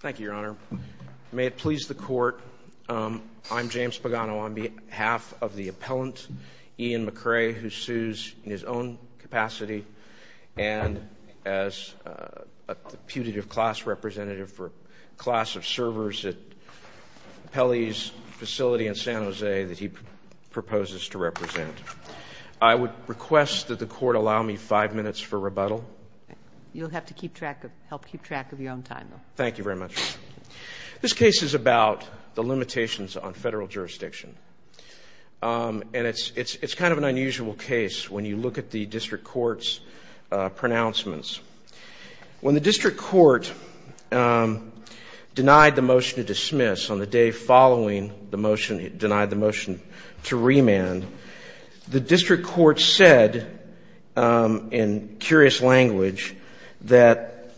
Thank you, Your Honor. May it please the court, I'm James Spagano on behalf of the appellant, Ian McCray, who sues in his own capacity and as a putative class representative for a class of servers at Pelley's facility in San Jose that he proposes to represent. I would request that the court allow me five minutes for rebuttal. You'll have to help keep track of your own time, though. Thank you very much. This case is about the limitations on federal jurisdiction. And it's kind of an unusual case when you look at the district court's pronouncements. When the district court denied the motion to dismiss on the day following the motion, denied the motion to remand, the district court said, in curious language, that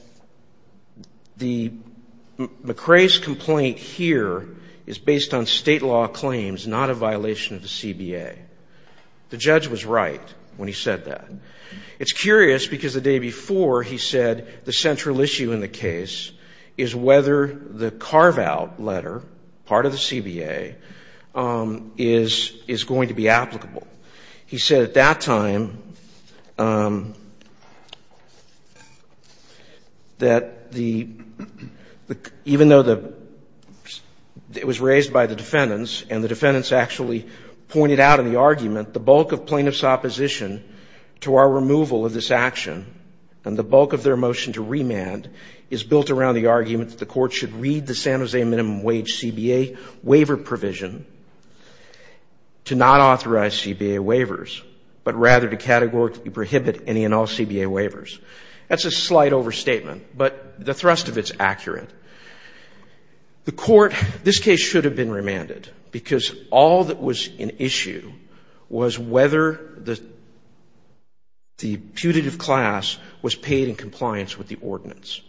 McCray's complaint here is based on state law claims, not a violation of the CBA. The judge was right when he said that. It's curious, because the day before he said the central issue in the case is whether the carve-out letter, part of the CBA, is going to be applicable. He said at that time that even though it was raised by the defendants, and the defendants actually pointed out in the argument, the bulk of plaintiffs' opposition to our removal of this action, and the bulk of their motion to remand, is built around the argument that the court should read the San Jose minimum wage CBA waiver provision to not authorize CBA waivers, but rather to categorically prohibit any and all CBA waivers. That's a slight overstatement, but the thrust of it's accurate. The court, this case should have been remanded, because all that was in issue was whether the putative class was paid in compliance with the ordinance.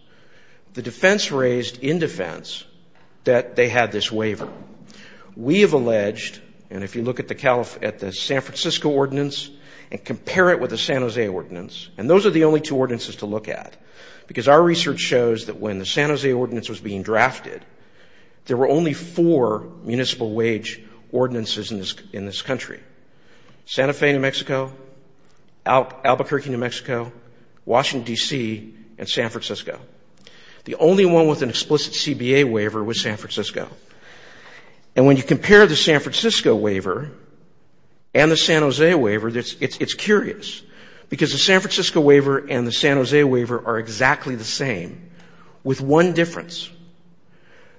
The defense raised, in defense, that they had this waiver. We have alleged, and if you look at the San Francisco ordinance and compare it with the San Jose ordinance, and those are the only two ordinances to look at, because our research shows that when the San Jose ordinance was being drafted, there were only four municipal wage ordinances in this country. Santa Fe, New Mexico, Albuquerque, New Mexico, Washington, DC, and San Francisco. The only one with an explicit CBA waiver was San Francisco. And when you compare the San Francisco waiver and the San Jose waiver, it's curious, because the San Francisco waiver and the San Jose waiver are exactly the same, with one difference.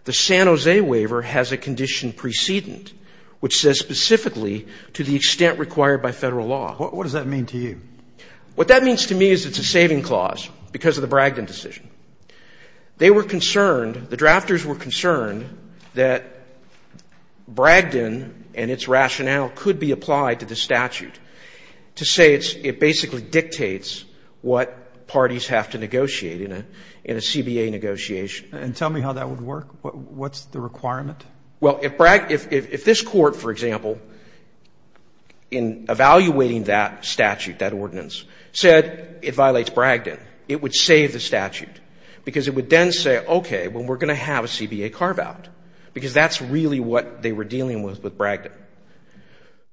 The San Jose waiver has a condition precedent, which says specifically, to the extent required by federal law. What does that mean to you? What that means to me is it's a saving clause, because of the Bragdon decision. They were concerned, the drafters were concerned that Bragdon and its rationale could be applied to the statute, to say it basically dictates what parties have to negotiate in a CBA negotiation. And tell me how that would work. What's the requirement? Well, if this court, for example, in evaluating that statute, that ordinance, said it violates Bragdon, it would save the statute. Because it would then say, OK, well, we're going to have a CBA carve out, because that's really what they were dealing with with Bragdon.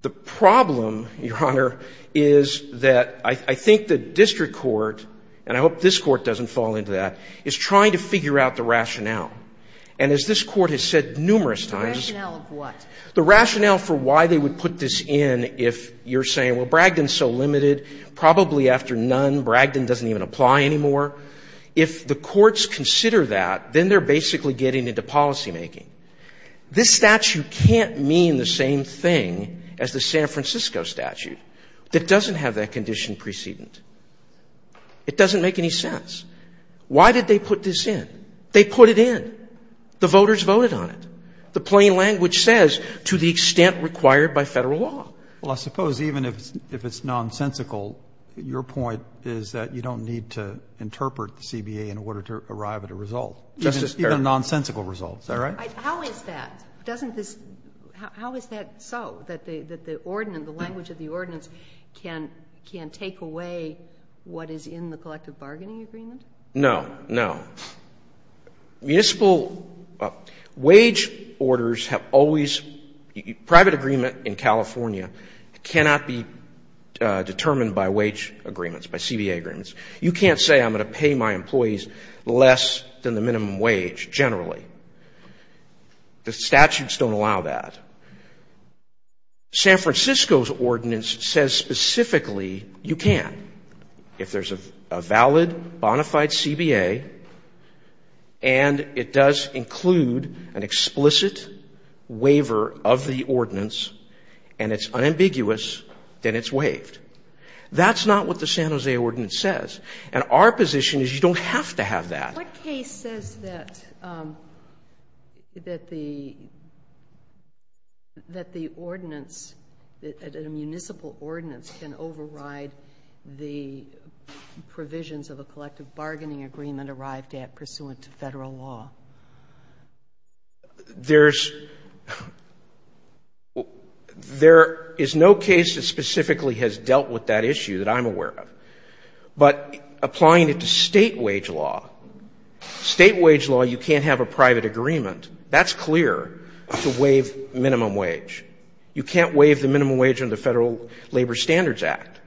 The problem, Your Honor, is that I think the district court, and I hope this court doesn't fall into that, is trying to figure out the rationale. And as this court has said numerous times, The rationale of what? The rationale for why they would put this in if you're saying, well, Bragdon's so limited, probably after none, Bragdon doesn't even apply anymore. If the courts consider that, then they're basically getting into policymaking. This statute can't mean the same thing as the San Francisco statute. It doesn't have that condition precedent. It doesn't make any sense. Why did they put this in? They put it in. The voters voted on it. The plain language says, to the extent required by Federal law. Well, I suppose even if it's nonsensical, your point is that you don't need to interpret the CBA in order to arrive at a result. Justice Kagan. Even nonsensical results, is that right? How is that? Doesn't this, how is that so, that the ordinance, the language of the ordinance, can take away what is in the collective bargaining agreement? No. No. Municipal wage orders have always, private agreement in California cannot be determined by wage agreements, by CBA agreements. You can't say, I'm going to pay my employees less than the minimum wage, generally. The statutes don't allow that. San Francisco's ordinance says specifically, you can. If there's a valid, bonafide CBA, and it does include an explicit waiver of the ordinance, and it's unambiguous, then it's waived. That's not what the San Jose ordinance says. And our position is, you don't have to have that. What case says that the ordinance, that a municipal ordinance can override the provisions of a collective bargaining agreement arrived at pursuant to Federal law? There is no case that specifically has dealt with that issue that I'm aware of. But applying it to state wage law, state wage law, you can't have a private agreement. That's clear to waive minimum wage. You can't waive the minimum wage under the Federal Labor Standards Act.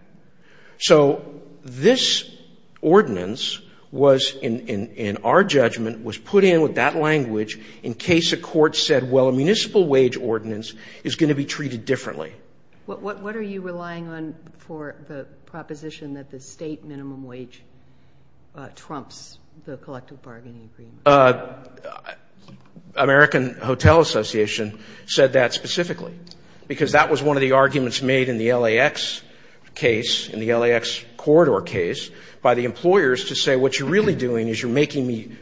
So this ordinance was, in our judgment, was put in with that language in case a court said, well, a municipal wage ordinance is going to be treated differently. What are you relying on for the proposition that the state minimum wage trumps the collective bargaining agreement? The American Hotel Association said that specifically, because that was one of the arguments made in the LAX case, in the LAX corridor case, by the employers to say, what you're really doing is you're making me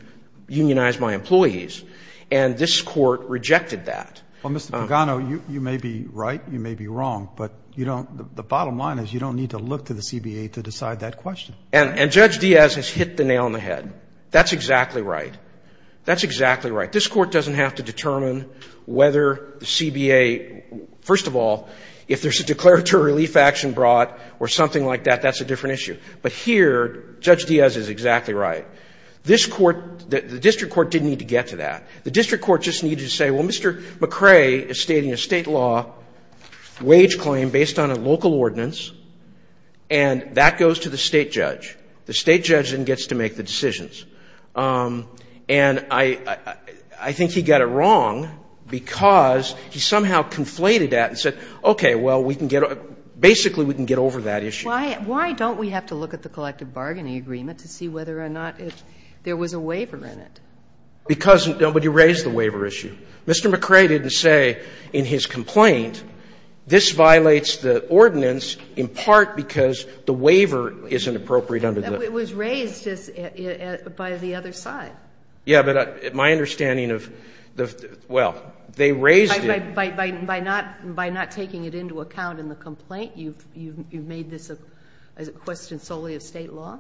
unionize my employees. And this court rejected that. Well, Mr. Pagano, you may be right, you may be wrong, but the bottom line is, you don't need to look to the CBA to decide that question. And Judge Diaz has hit the nail on the head. That's exactly right. That's exactly right. This court doesn't have to determine whether the CBA, first of all, if there's a declaratory relief action brought or something like that, that's a different issue. But here, Judge Diaz is exactly right. This court, the district court, didn't need to get to that. The district court just needed to say, well, Mr. McRae is stating a state law wage claim based on a local ordinance, and that goes to the state judge. The state judge then gets to make the decisions. And I think he got it wrong because he somehow conflated that and said, okay, well, we can get over that. Basically, we can get over that issue. Why don't we have to look at the collective bargaining agreement to see whether or not there was a waiver in it? Because nobody raised the waiver issue. Mr. McRae didn't say in his complaint, this violates the ordinance in part because the waiver is inappropriate under the law. It was raised by the other side. Yeah, but my understanding of the – well, they raised it. By not taking it into account in the complaint, you've made this a question solely of state law?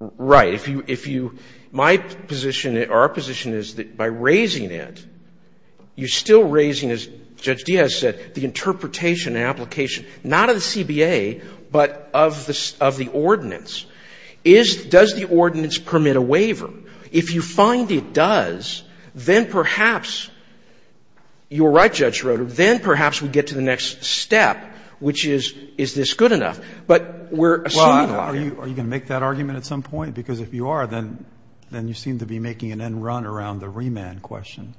Right. If you – my position or our position is that by raising it, you're still raising, as Judge Diaz said, the interpretation and application, not of the CBA, but of the ordinance. Is – does the ordinance permit a waiver? If you find it does, then perhaps – you're right, Judge Roeder – then perhaps we get to the next step, which is, is this good enough? But we're assuming a lot. Well, are you going to make that argument at some point? Because if you are, then you seem to be making an end run around the remand question.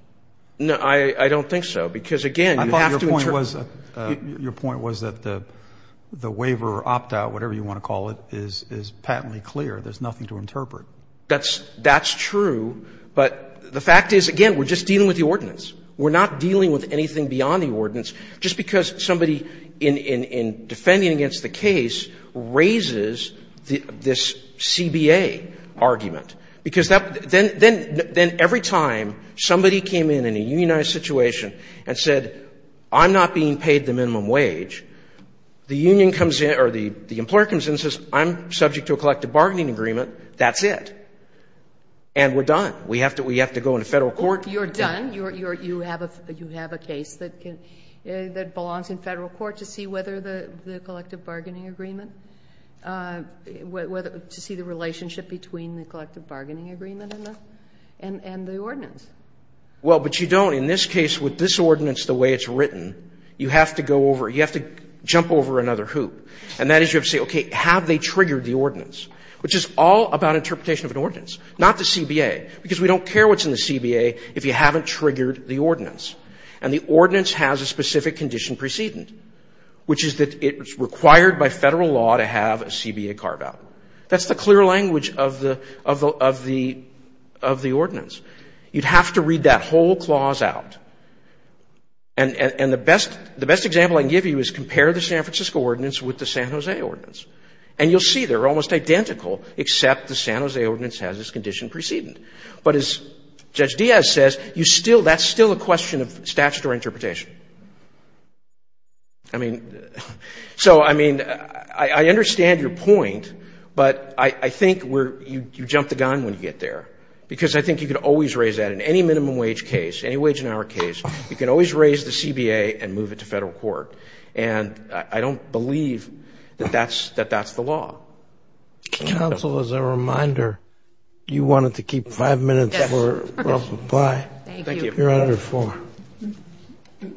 No, I don't think so, because, again, you have to interpret – I thought your point was that the waiver or opt-out, whatever you want to call it, is patently clear. There's nothing to interpret. That's true. But the fact is, again, we're just dealing with the ordinance. We're not dealing with anything beyond the ordinance. Just because somebody in defending against the case raises this CBA argument, because that – then every time somebody came in in a unionized situation and said, I'm not being paid the minimum wage, the union comes in – or the employer comes in and says, I'm subject to a collective bargaining agreement, that's it, and we're done. We have to go into Federal court. You're done. You have a case that belongs in Federal court to see whether the collective bargaining agreement and the ordinance. Well, but you don't. In this case, with this ordinance the way it's written, you have to go over – you have to jump over another hoop. And that is you have to say, okay, have they triggered the ordinance, which is all about interpretation of an ordinance, not the CBA, because we don't care what's in the CBA if you haven't triggered the ordinance. And the ordinance has a specific condition precedent, which is that it's required by Federal law to have a CBA carve-out. That's the clear language of the ordinance. You'd have to read that whole clause out. And the best example I can give you is compare the San Francisco ordinance with the San Jose ordinance. And you'll see they're almost identical, except the San Jose ordinance has this condition precedent. But as Judge Diaz says, you still – that's still a question of statutory interpretation. I mean, so, I mean, I understand your point, but I think you jump the gun when you get there, because I think you can always raise that in any minimum wage case, any wage in our case, you can always raise the CBA and move it to Federal court. And I don't believe that that's the law. Counsel, as a reminder, you wanted to keep five minutes for Russell Pye. Thank you. Your Honor, the floor. Good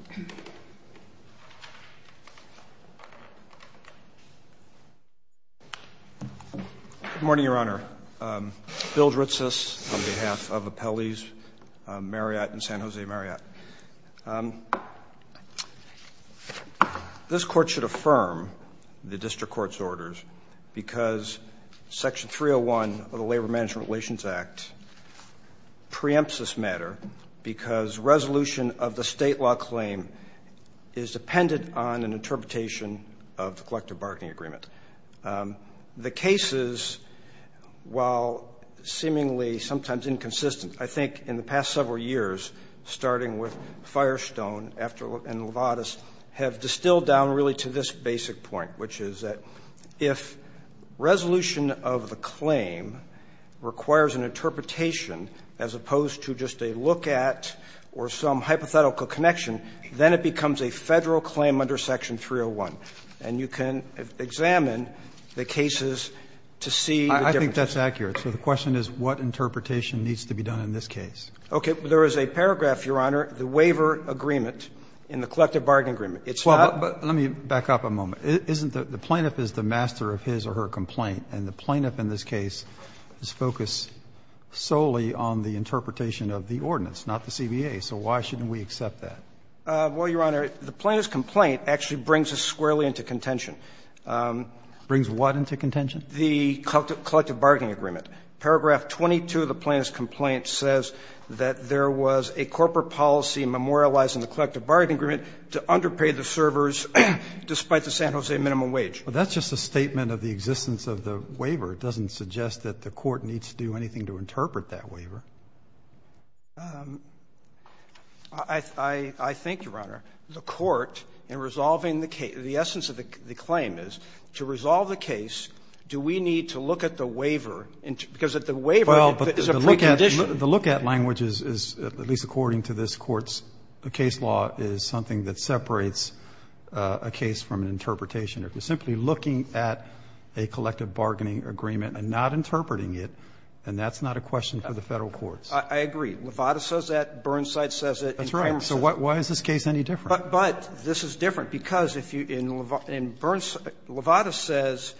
morning, Your Honor. Bill Dritzis on behalf of Appellees Marriott and San Jose Marriott. This court should affirm the district court's orders because Section 301 of the San Jose Marriott Act requires resolution of the state law claim is dependent on an interpretation of the collective bargaining agreement. The cases, while seemingly sometimes inconsistent, I think in the past several years, starting with Firestone and Lovatus, have distilled down really to this basic point, which is that if resolution of the claim requires an interpretation as opposed to just a look at or some hypothetical connection, then it becomes a Federal claim under Section 301. And you can examine the cases to see the differences. I think that's accurate. So the question is what interpretation needs to be done in this case. Okay. There is a paragraph, Your Honor, the waiver agreement in the collective bargaining agreement. It's not the plaintiff is the master of his or her complaint, and the plaintiff in this case is focused solely on the interpretation of the ordinance, not the CBA. So why shouldn't we accept that? Well, Your Honor, the plaintiff's complaint actually brings us squarely into contention. Brings what into contention? The collective bargaining agreement. Paragraph 22 of the plaintiff's complaint says that there was a corporate policy memorializing the collective bargaining agreement to underpay the servers despite the San Jose minimum wage. That's just a statement of the existence of the waiver. It doesn't suggest that the Court needs to do anything to interpret that waiver. I think, Your Honor, the Court in resolving the case, the essence of the claim is to resolve the case, do we need to look at the waiver, because the waiver is a precondition. The look-at language is, at least according to this Court's case law, is something that separates a case from an interpretation. If you're simply looking at a collective bargaining agreement and not interpreting it, then that's not a question for the Federal courts. I agree. Levada says that, Burnside says it. That's right. So why is this case any different? But this is different, because if you – and Levada says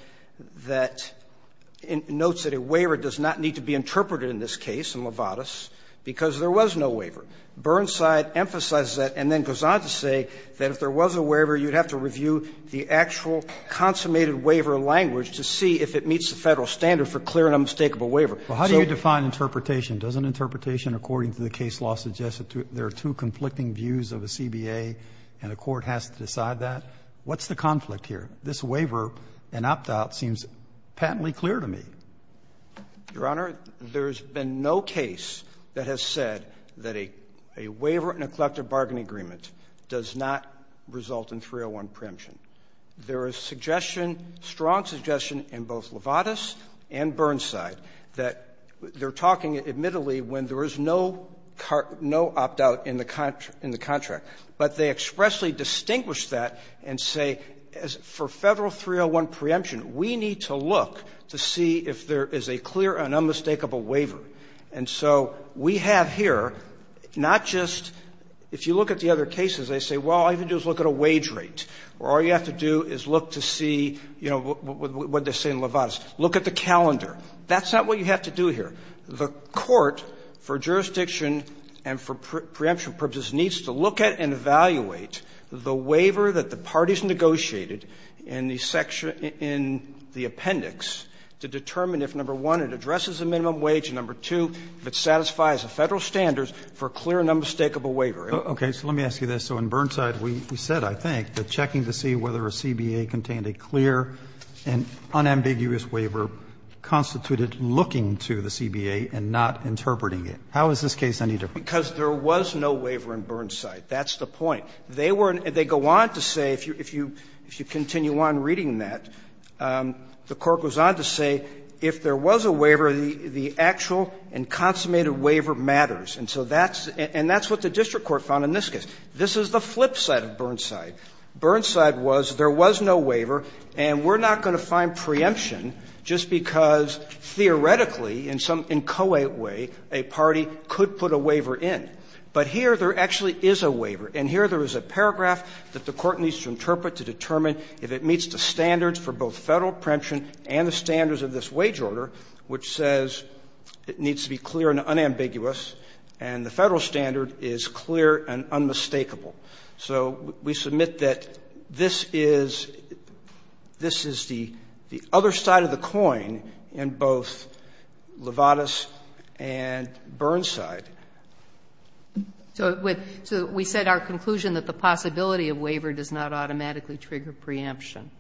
that – notes that a waiver does not need to be interpreted in this case in Levada's, because there was no waiver. Burnside emphasizes that and then goes on to say that if there was a waiver, you'd have to review the actual consummated waiver language to see if it meets the Federal standard for clear and unmistakable waiver. Well, how do you define interpretation? Doesn't interpretation according to the case law suggest that there are two conflicting views of a CBA and a court has to decide that? What's the conflict here? This waiver, an opt-out, seems patently clear to me. Your Honor, there's been no case that has said that a waiver in a collective bargaining agreement does not result in 301 preemption. There is suggestion, strong suggestion, in both Levada's and Burnside that they're talking, admittedly, when there is no opt-out in the contract, but they expressly distinguish that and say, for Federal 301 preemption, we need to look to see if there is a clear and unmistakable waiver. And so we have here not just – if you look at the other cases, they say, well, all you have to do is look at a wage rate, or all you have to do is look to see, you know, what they say in Levada's. Look at the calendar. That's not what you have to do here. The court, for jurisdiction and for preemption purposes, needs to look at and evaluate the waiver that the parties negotiated in the section – in the appendix to determine if, number one, it addresses a minimum wage, and, number two, if it satisfies the Federal standards for a clear and unmistakable waiver. Roberts, so let me ask you this. So in Burnside, we said, I think, that checking to see whether a CBA contained a clear and unambiguous waiver constituted looking to the CBA and not interpreting it. How is this case any different? Because there was no waiver in Burnside. That's the point. They were – they go on to say, if you continue on reading that, the court goes on to say, if there was a waiver, the actual and consummated waiver matters. And so that's – and that's what the district court found in this case. This is the flip side of Burnside. Burnside was, there was no waiver, and we're not going to find preemption just because, theoretically, in some inchoate way, a party could put a waiver in. But here, there actually is a waiver. And here there is a paragraph that the Court needs to interpret to determine if it meets the standards for both Federal preemption and the standards of this wage order, which says it needs to be clear and unambiguous, and the Federal standard is clear and unmistakable. So we submit that this is – this is the other side of the coin in both Lovatus and Burnside. So it would – so we said our conclusion that the possibility of waiver does not automatically trigger preemption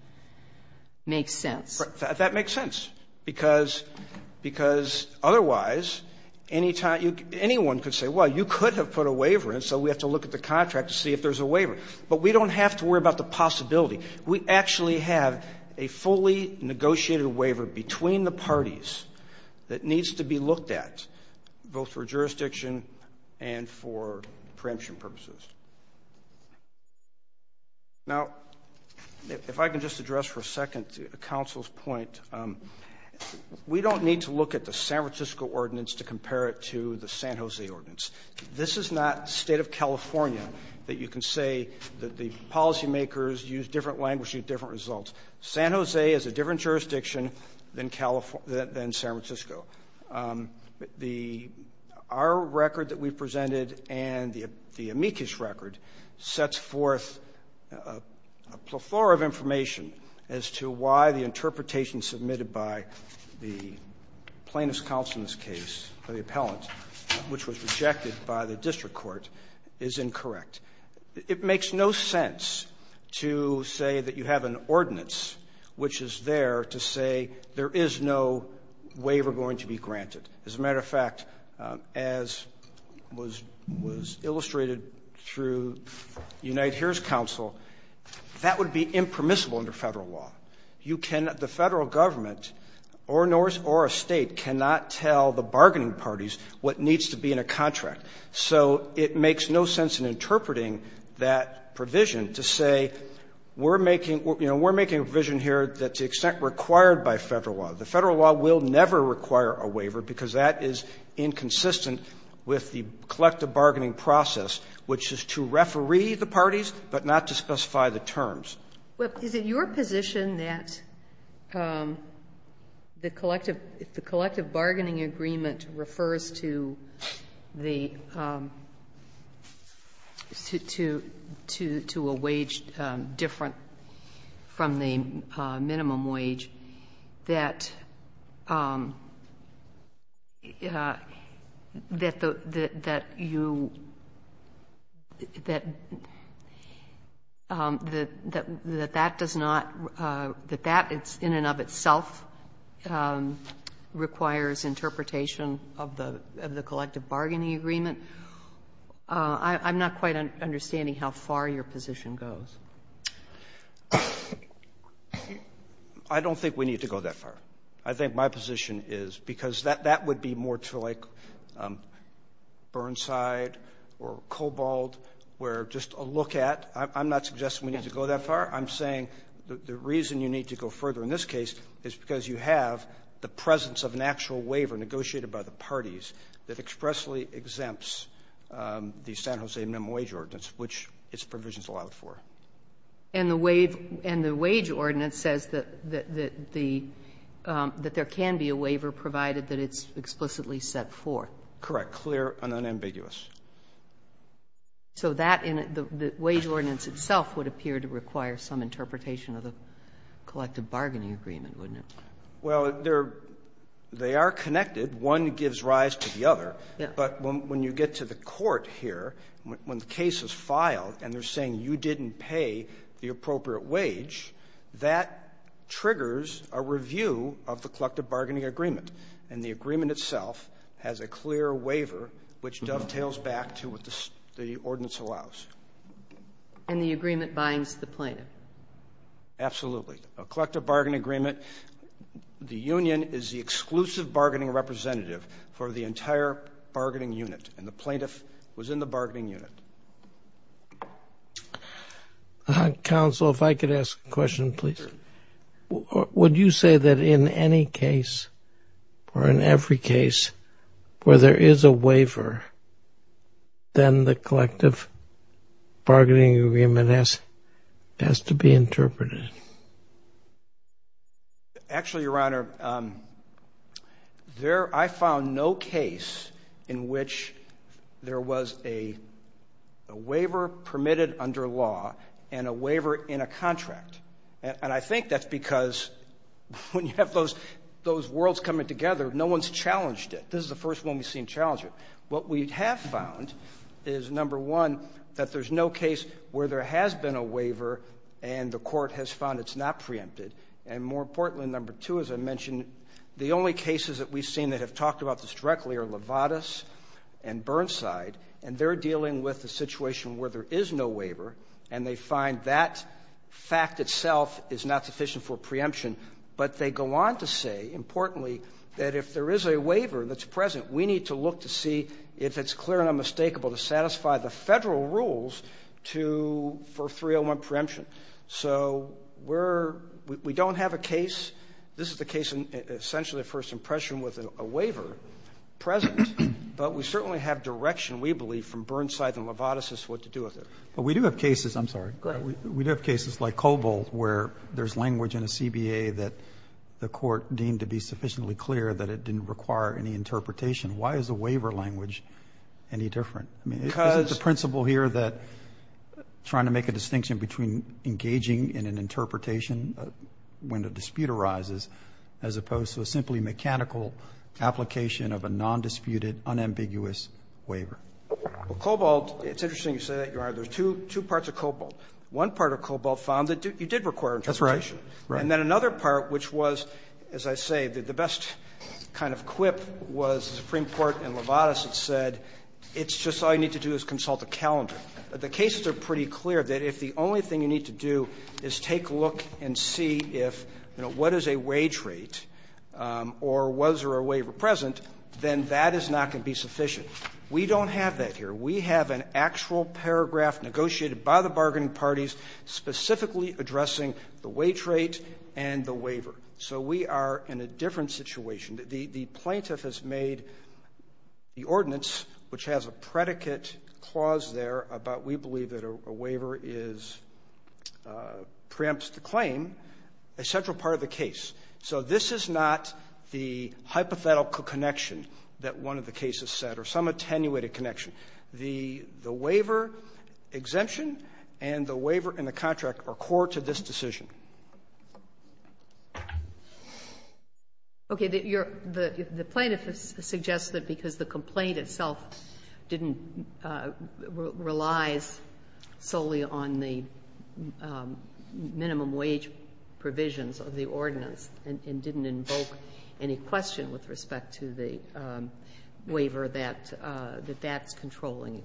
makes sense. That makes sense, because – because otherwise, any time – anyone could say, well, you could have put a waiver in, so we have to look at the contract to see if there's a waiver. But we don't have to worry about the possibility. We actually have a fully negotiated waiver between the parties that needs to be looked at both for jurisdiction and for preemption purposes. Now, if I can just address for a second the counsel's point, we don't need to look at the San Francisco ordinance to compare it to the San Jose ordinance. This is not State of California that you can say that the policymakers use different language, use different results. San Jose is a different jurisdiction than San Francisco. The – our record that we presented and the amicus record sets forth a plethora of information as to why the interpretation submitted by the plaintiff's counsel in this case, or the appellant, which was rejected by the district court, is incorrect. It makes no sense to say that you have an ordinance which is there to say there is no waiver going to be granted. As a matter of fact, as was illustrated through Unite HERE's counsel, that would be impermissible under Federal law. You cannot – the Federal government or a State cannot tell the bargaining parties what needs to be in a contract. So it makes no sense in interpreting that provision to say we're making – you know, we're making a provision here that to the extent required by Federal law, the Federal law will never require a waiver because that is inconsistent with the collective bargaining process, which is to referee the parties but not to specify the terms. Well, is it your position that the collective – if the collective bargaining agreement refers to the – to a wage different from the minimum wage, that you – that that does not – that that in and of itself requires interpretation of the collective bargaining agreement? I'm not quite understanding how far your position goes. I don't think we need to go that far. I think my position is, because that would be more to, like, Burnside or Cobalt, where just a look at – I'm not suggesting we need to go that far. I'm saying the reason you need to go further in this case is because you have the presence of an actual waiver negotiated by the parties that expressly exempts the San Jose minimum wage ordinance, which its provisions allow for. And the wage – and the wage ordinance says that the – that there can be a waiver provided that it's explicitly set forth. Correct. Clear and unambiguous. So that in – the wage ordinance itself would appear to require some interpretation of the collective bargaining agreement, wouldn't it? Well, they're – they are connected. One gives rise to the other. Yeah. But when you get to the court here, when the case is filed and they're saying you didn't pay the appropriate wage, that triggers a review of the collective bargaining agreement. And the agreement itself has a clear waiver which dovetails back to what the ordinance allows. And the agreement binds the plaintiff. Absolutely. A collective bargaining agreement – the union is the exclusive bargaining representative for the entire bargaining unit. And the plaintiff was in the bargaining unit. Counsel, if I could ask a question, please. Sure. Would you say that in any case or in every case where there is a waiver, then the collective bargaining agreement has to be interpreted? Actually, Your Honor, there – I found no case in which there was a waiver permitted under law and a waiver in a contract. And I think that's because when you have those worlds coming together, no one's challenged it. This is the first one we've seen challenge it. What we have found is, number one, that there's no case where there has been a waiver and the court has found it's not preempted. And more importantly, number two, as I mentioned, the only cases that we've seen that have talked about this directly are Levatas and Burnside. And they're dealing with a situation where there is no waiver and they find that fact itself is not sufficient for preemption. But they go on to say, importantly, that if there is a waiver that's present, we need to look to see if it's clear and unmistakable to satisfy the Federal rules to – for 301 preemption. So we're – we don't have a case – this is the case, essentially, of first impression with a waiver present, but we certainly have direction, we believe, from Burnside and Levatas as to what to do with it. But we do have cases – I'm sorry. Go ahead. We do have cases like Cobalt where there's language in a CBA that the court deemed to be sufficiently clear that it didn't require any interpretation. Why is the waiver language any different? I mean, is it the principle here that – trying to make a distinction between engaging in an interpretation when a dispute arises as opposed to a simply mechanical application of a non-disputed, unambiguous waiver? Well, Cobalt – it's interesting you say that, Your Honor. There's two – two parts of Cobalt. One part of Cobalt found that you did require interpretation. That's right. And then another part, which was, as I say, the best kind of quip was the Supreme Court in Levatas that said it's just all you need to do is consult a calendar. The cases are pretty clear that if the only thing you need to do is take a look and see if, you know, what is a wage rate or was there a waiver present, then that is not going to be sufficient. We don't have that here. We have an actual paragraph negotiated by the bargaining parties specifically addressing the wage rate and the waiver. So we are in a different situation. The plaintiff has made the ordinance, which has a predicate clause there about we believe that a waiver is – preempts the claim, a central part of the case. So this is not the hypothetical connection that one of the cases said or some attenuated connection. The waiver exemption and the waiver and the contract are core to this decision. Okay. The plaintiff has suggested because the complaint itself didn't – relies solely on the minimum wage provisions of the ordinance and didn't invoke any question with respect to the waiver that that's controlling.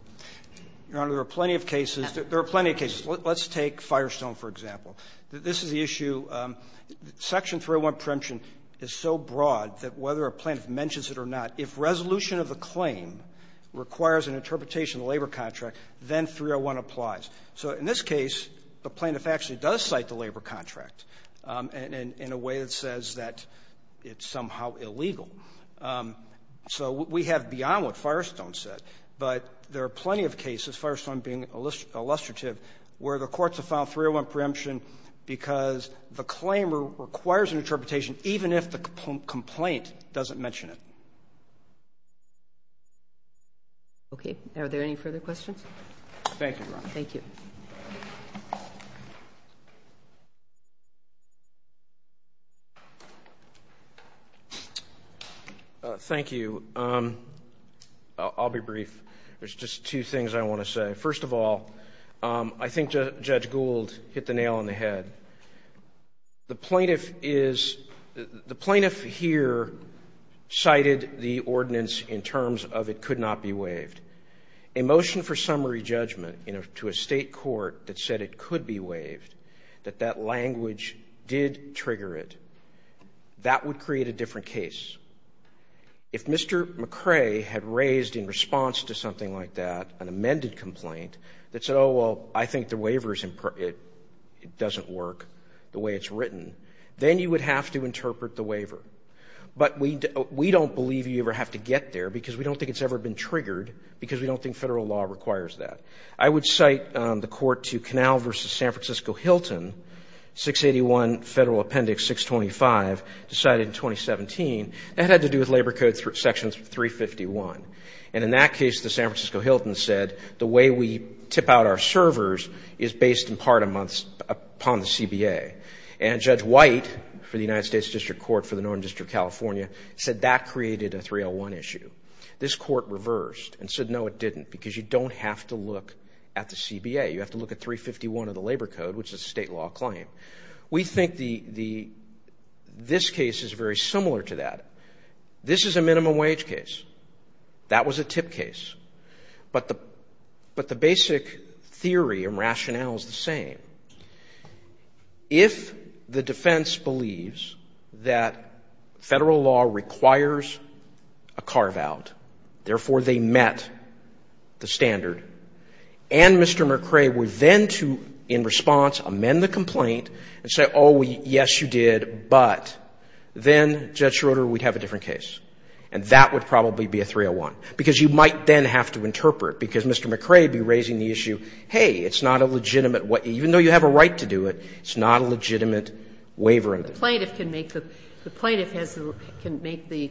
Your Honor, there are plenty of cases – there are plenty of cases. Let's take Firestone, for example. This is the issue – Section 301 preemption is so broad that whether a plaintiff mentions it or not, if resolution of the claim requires an interpretation of the labor contract, then 301 applies. So in this case, the plaintiff actually does cite the labor contract in a way that says that it's somehow illegal. So we have beyond what Firestone said. But there are plenty of cases, Firestone being illustrative, where the courts have found 301 preemption because the claim requires an interpretation even if the complaint doesn't mention it. Are there any further questions? Thank you, Your Honor. Thank you. Thank you. I'll be brief. There's just two things I want to say. First of all, I think Judge Gould hit the nail on the head. The plaintiff is – the plaintiff here cited the ordinance in terms of it could not be waived. A motion for summary judgment to a State court that said it could be waived, that that language did trigger it, that would create a different case. If Mr. McCrae had raised in response to something like that an amended complaint that said, oh, well, I think the waiver is – it doesn't work the way it's written, then you would have to interpret the waiver. But we don't believe you ever have to get there because we don't think it's ever been triggered because we don't think Federal law requires that. I would cite the court to Canal v. San Francisco-Hilton, 681 Federal Appendix 625, decided in 2017 that had to do with Labor Code sections 351. And in that case, the San Francisco-Hilton said the way we tip out our servers is based in part upon the CBA. And Judge White for the United States District Court for the Northern District of California said that created a 301 issue. This court reversed and said, no, it didn't, because you don't have to look at the CBA. You have to look at 351 of the Labor Code, which is a State law claim. We think this case is very similar to that. This is a minimum wage case. That was a tip case. But the basic theory and rationale is the same. If the defense believes that Federal law requires a carve-out, therefore they met the standard, and Mr. McCrae were then to, in response, amend the complaint and say, oh, yes, you did, but then, Judge Schroeder, we'd have a different case. And that would probably be a 301, because you might then have to interpret, because Mr. McCrae would be raising the issue, hey, it's not a legitimate way. Even though you have a right to do it, it's not a legitimate waiver. And the plaintiff can make the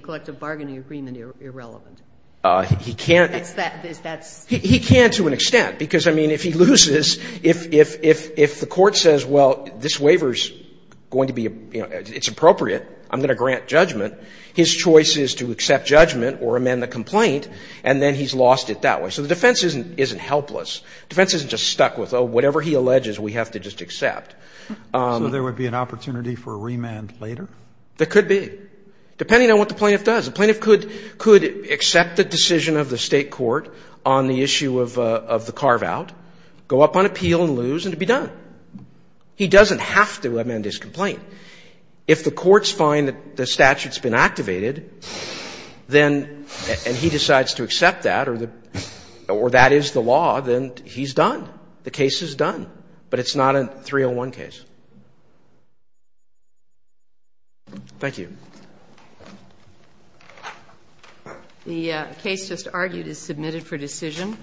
collective bargaining agreement irrelevant. He can't. He can't to an extent, because, I mean, if he loses, if the court says, well, this waiver's going to be, you know, it's appropriate, I'm going to grant judgment, his choice is to accept judgment or amend the complaint, and then he's lost it that way. So the defense isn't helpless. Defense isn't just stuck with, oh, whatever he alleges, we have to just accept. So there would be an opportunity for a remand later? There could be, depending on what the plaintiff does. The plaintiff could accept the decision of the State court on the issue of the carve-out, go up on appeal and lose, and it would be done. He doesn't have to amend his complaint. If the courts find that the statute's been activated, then, and he decides to accept that, or that is the law, then he's done, the case is done, but it's not a 301 case. Thank you. The case just argued is submitted for decision.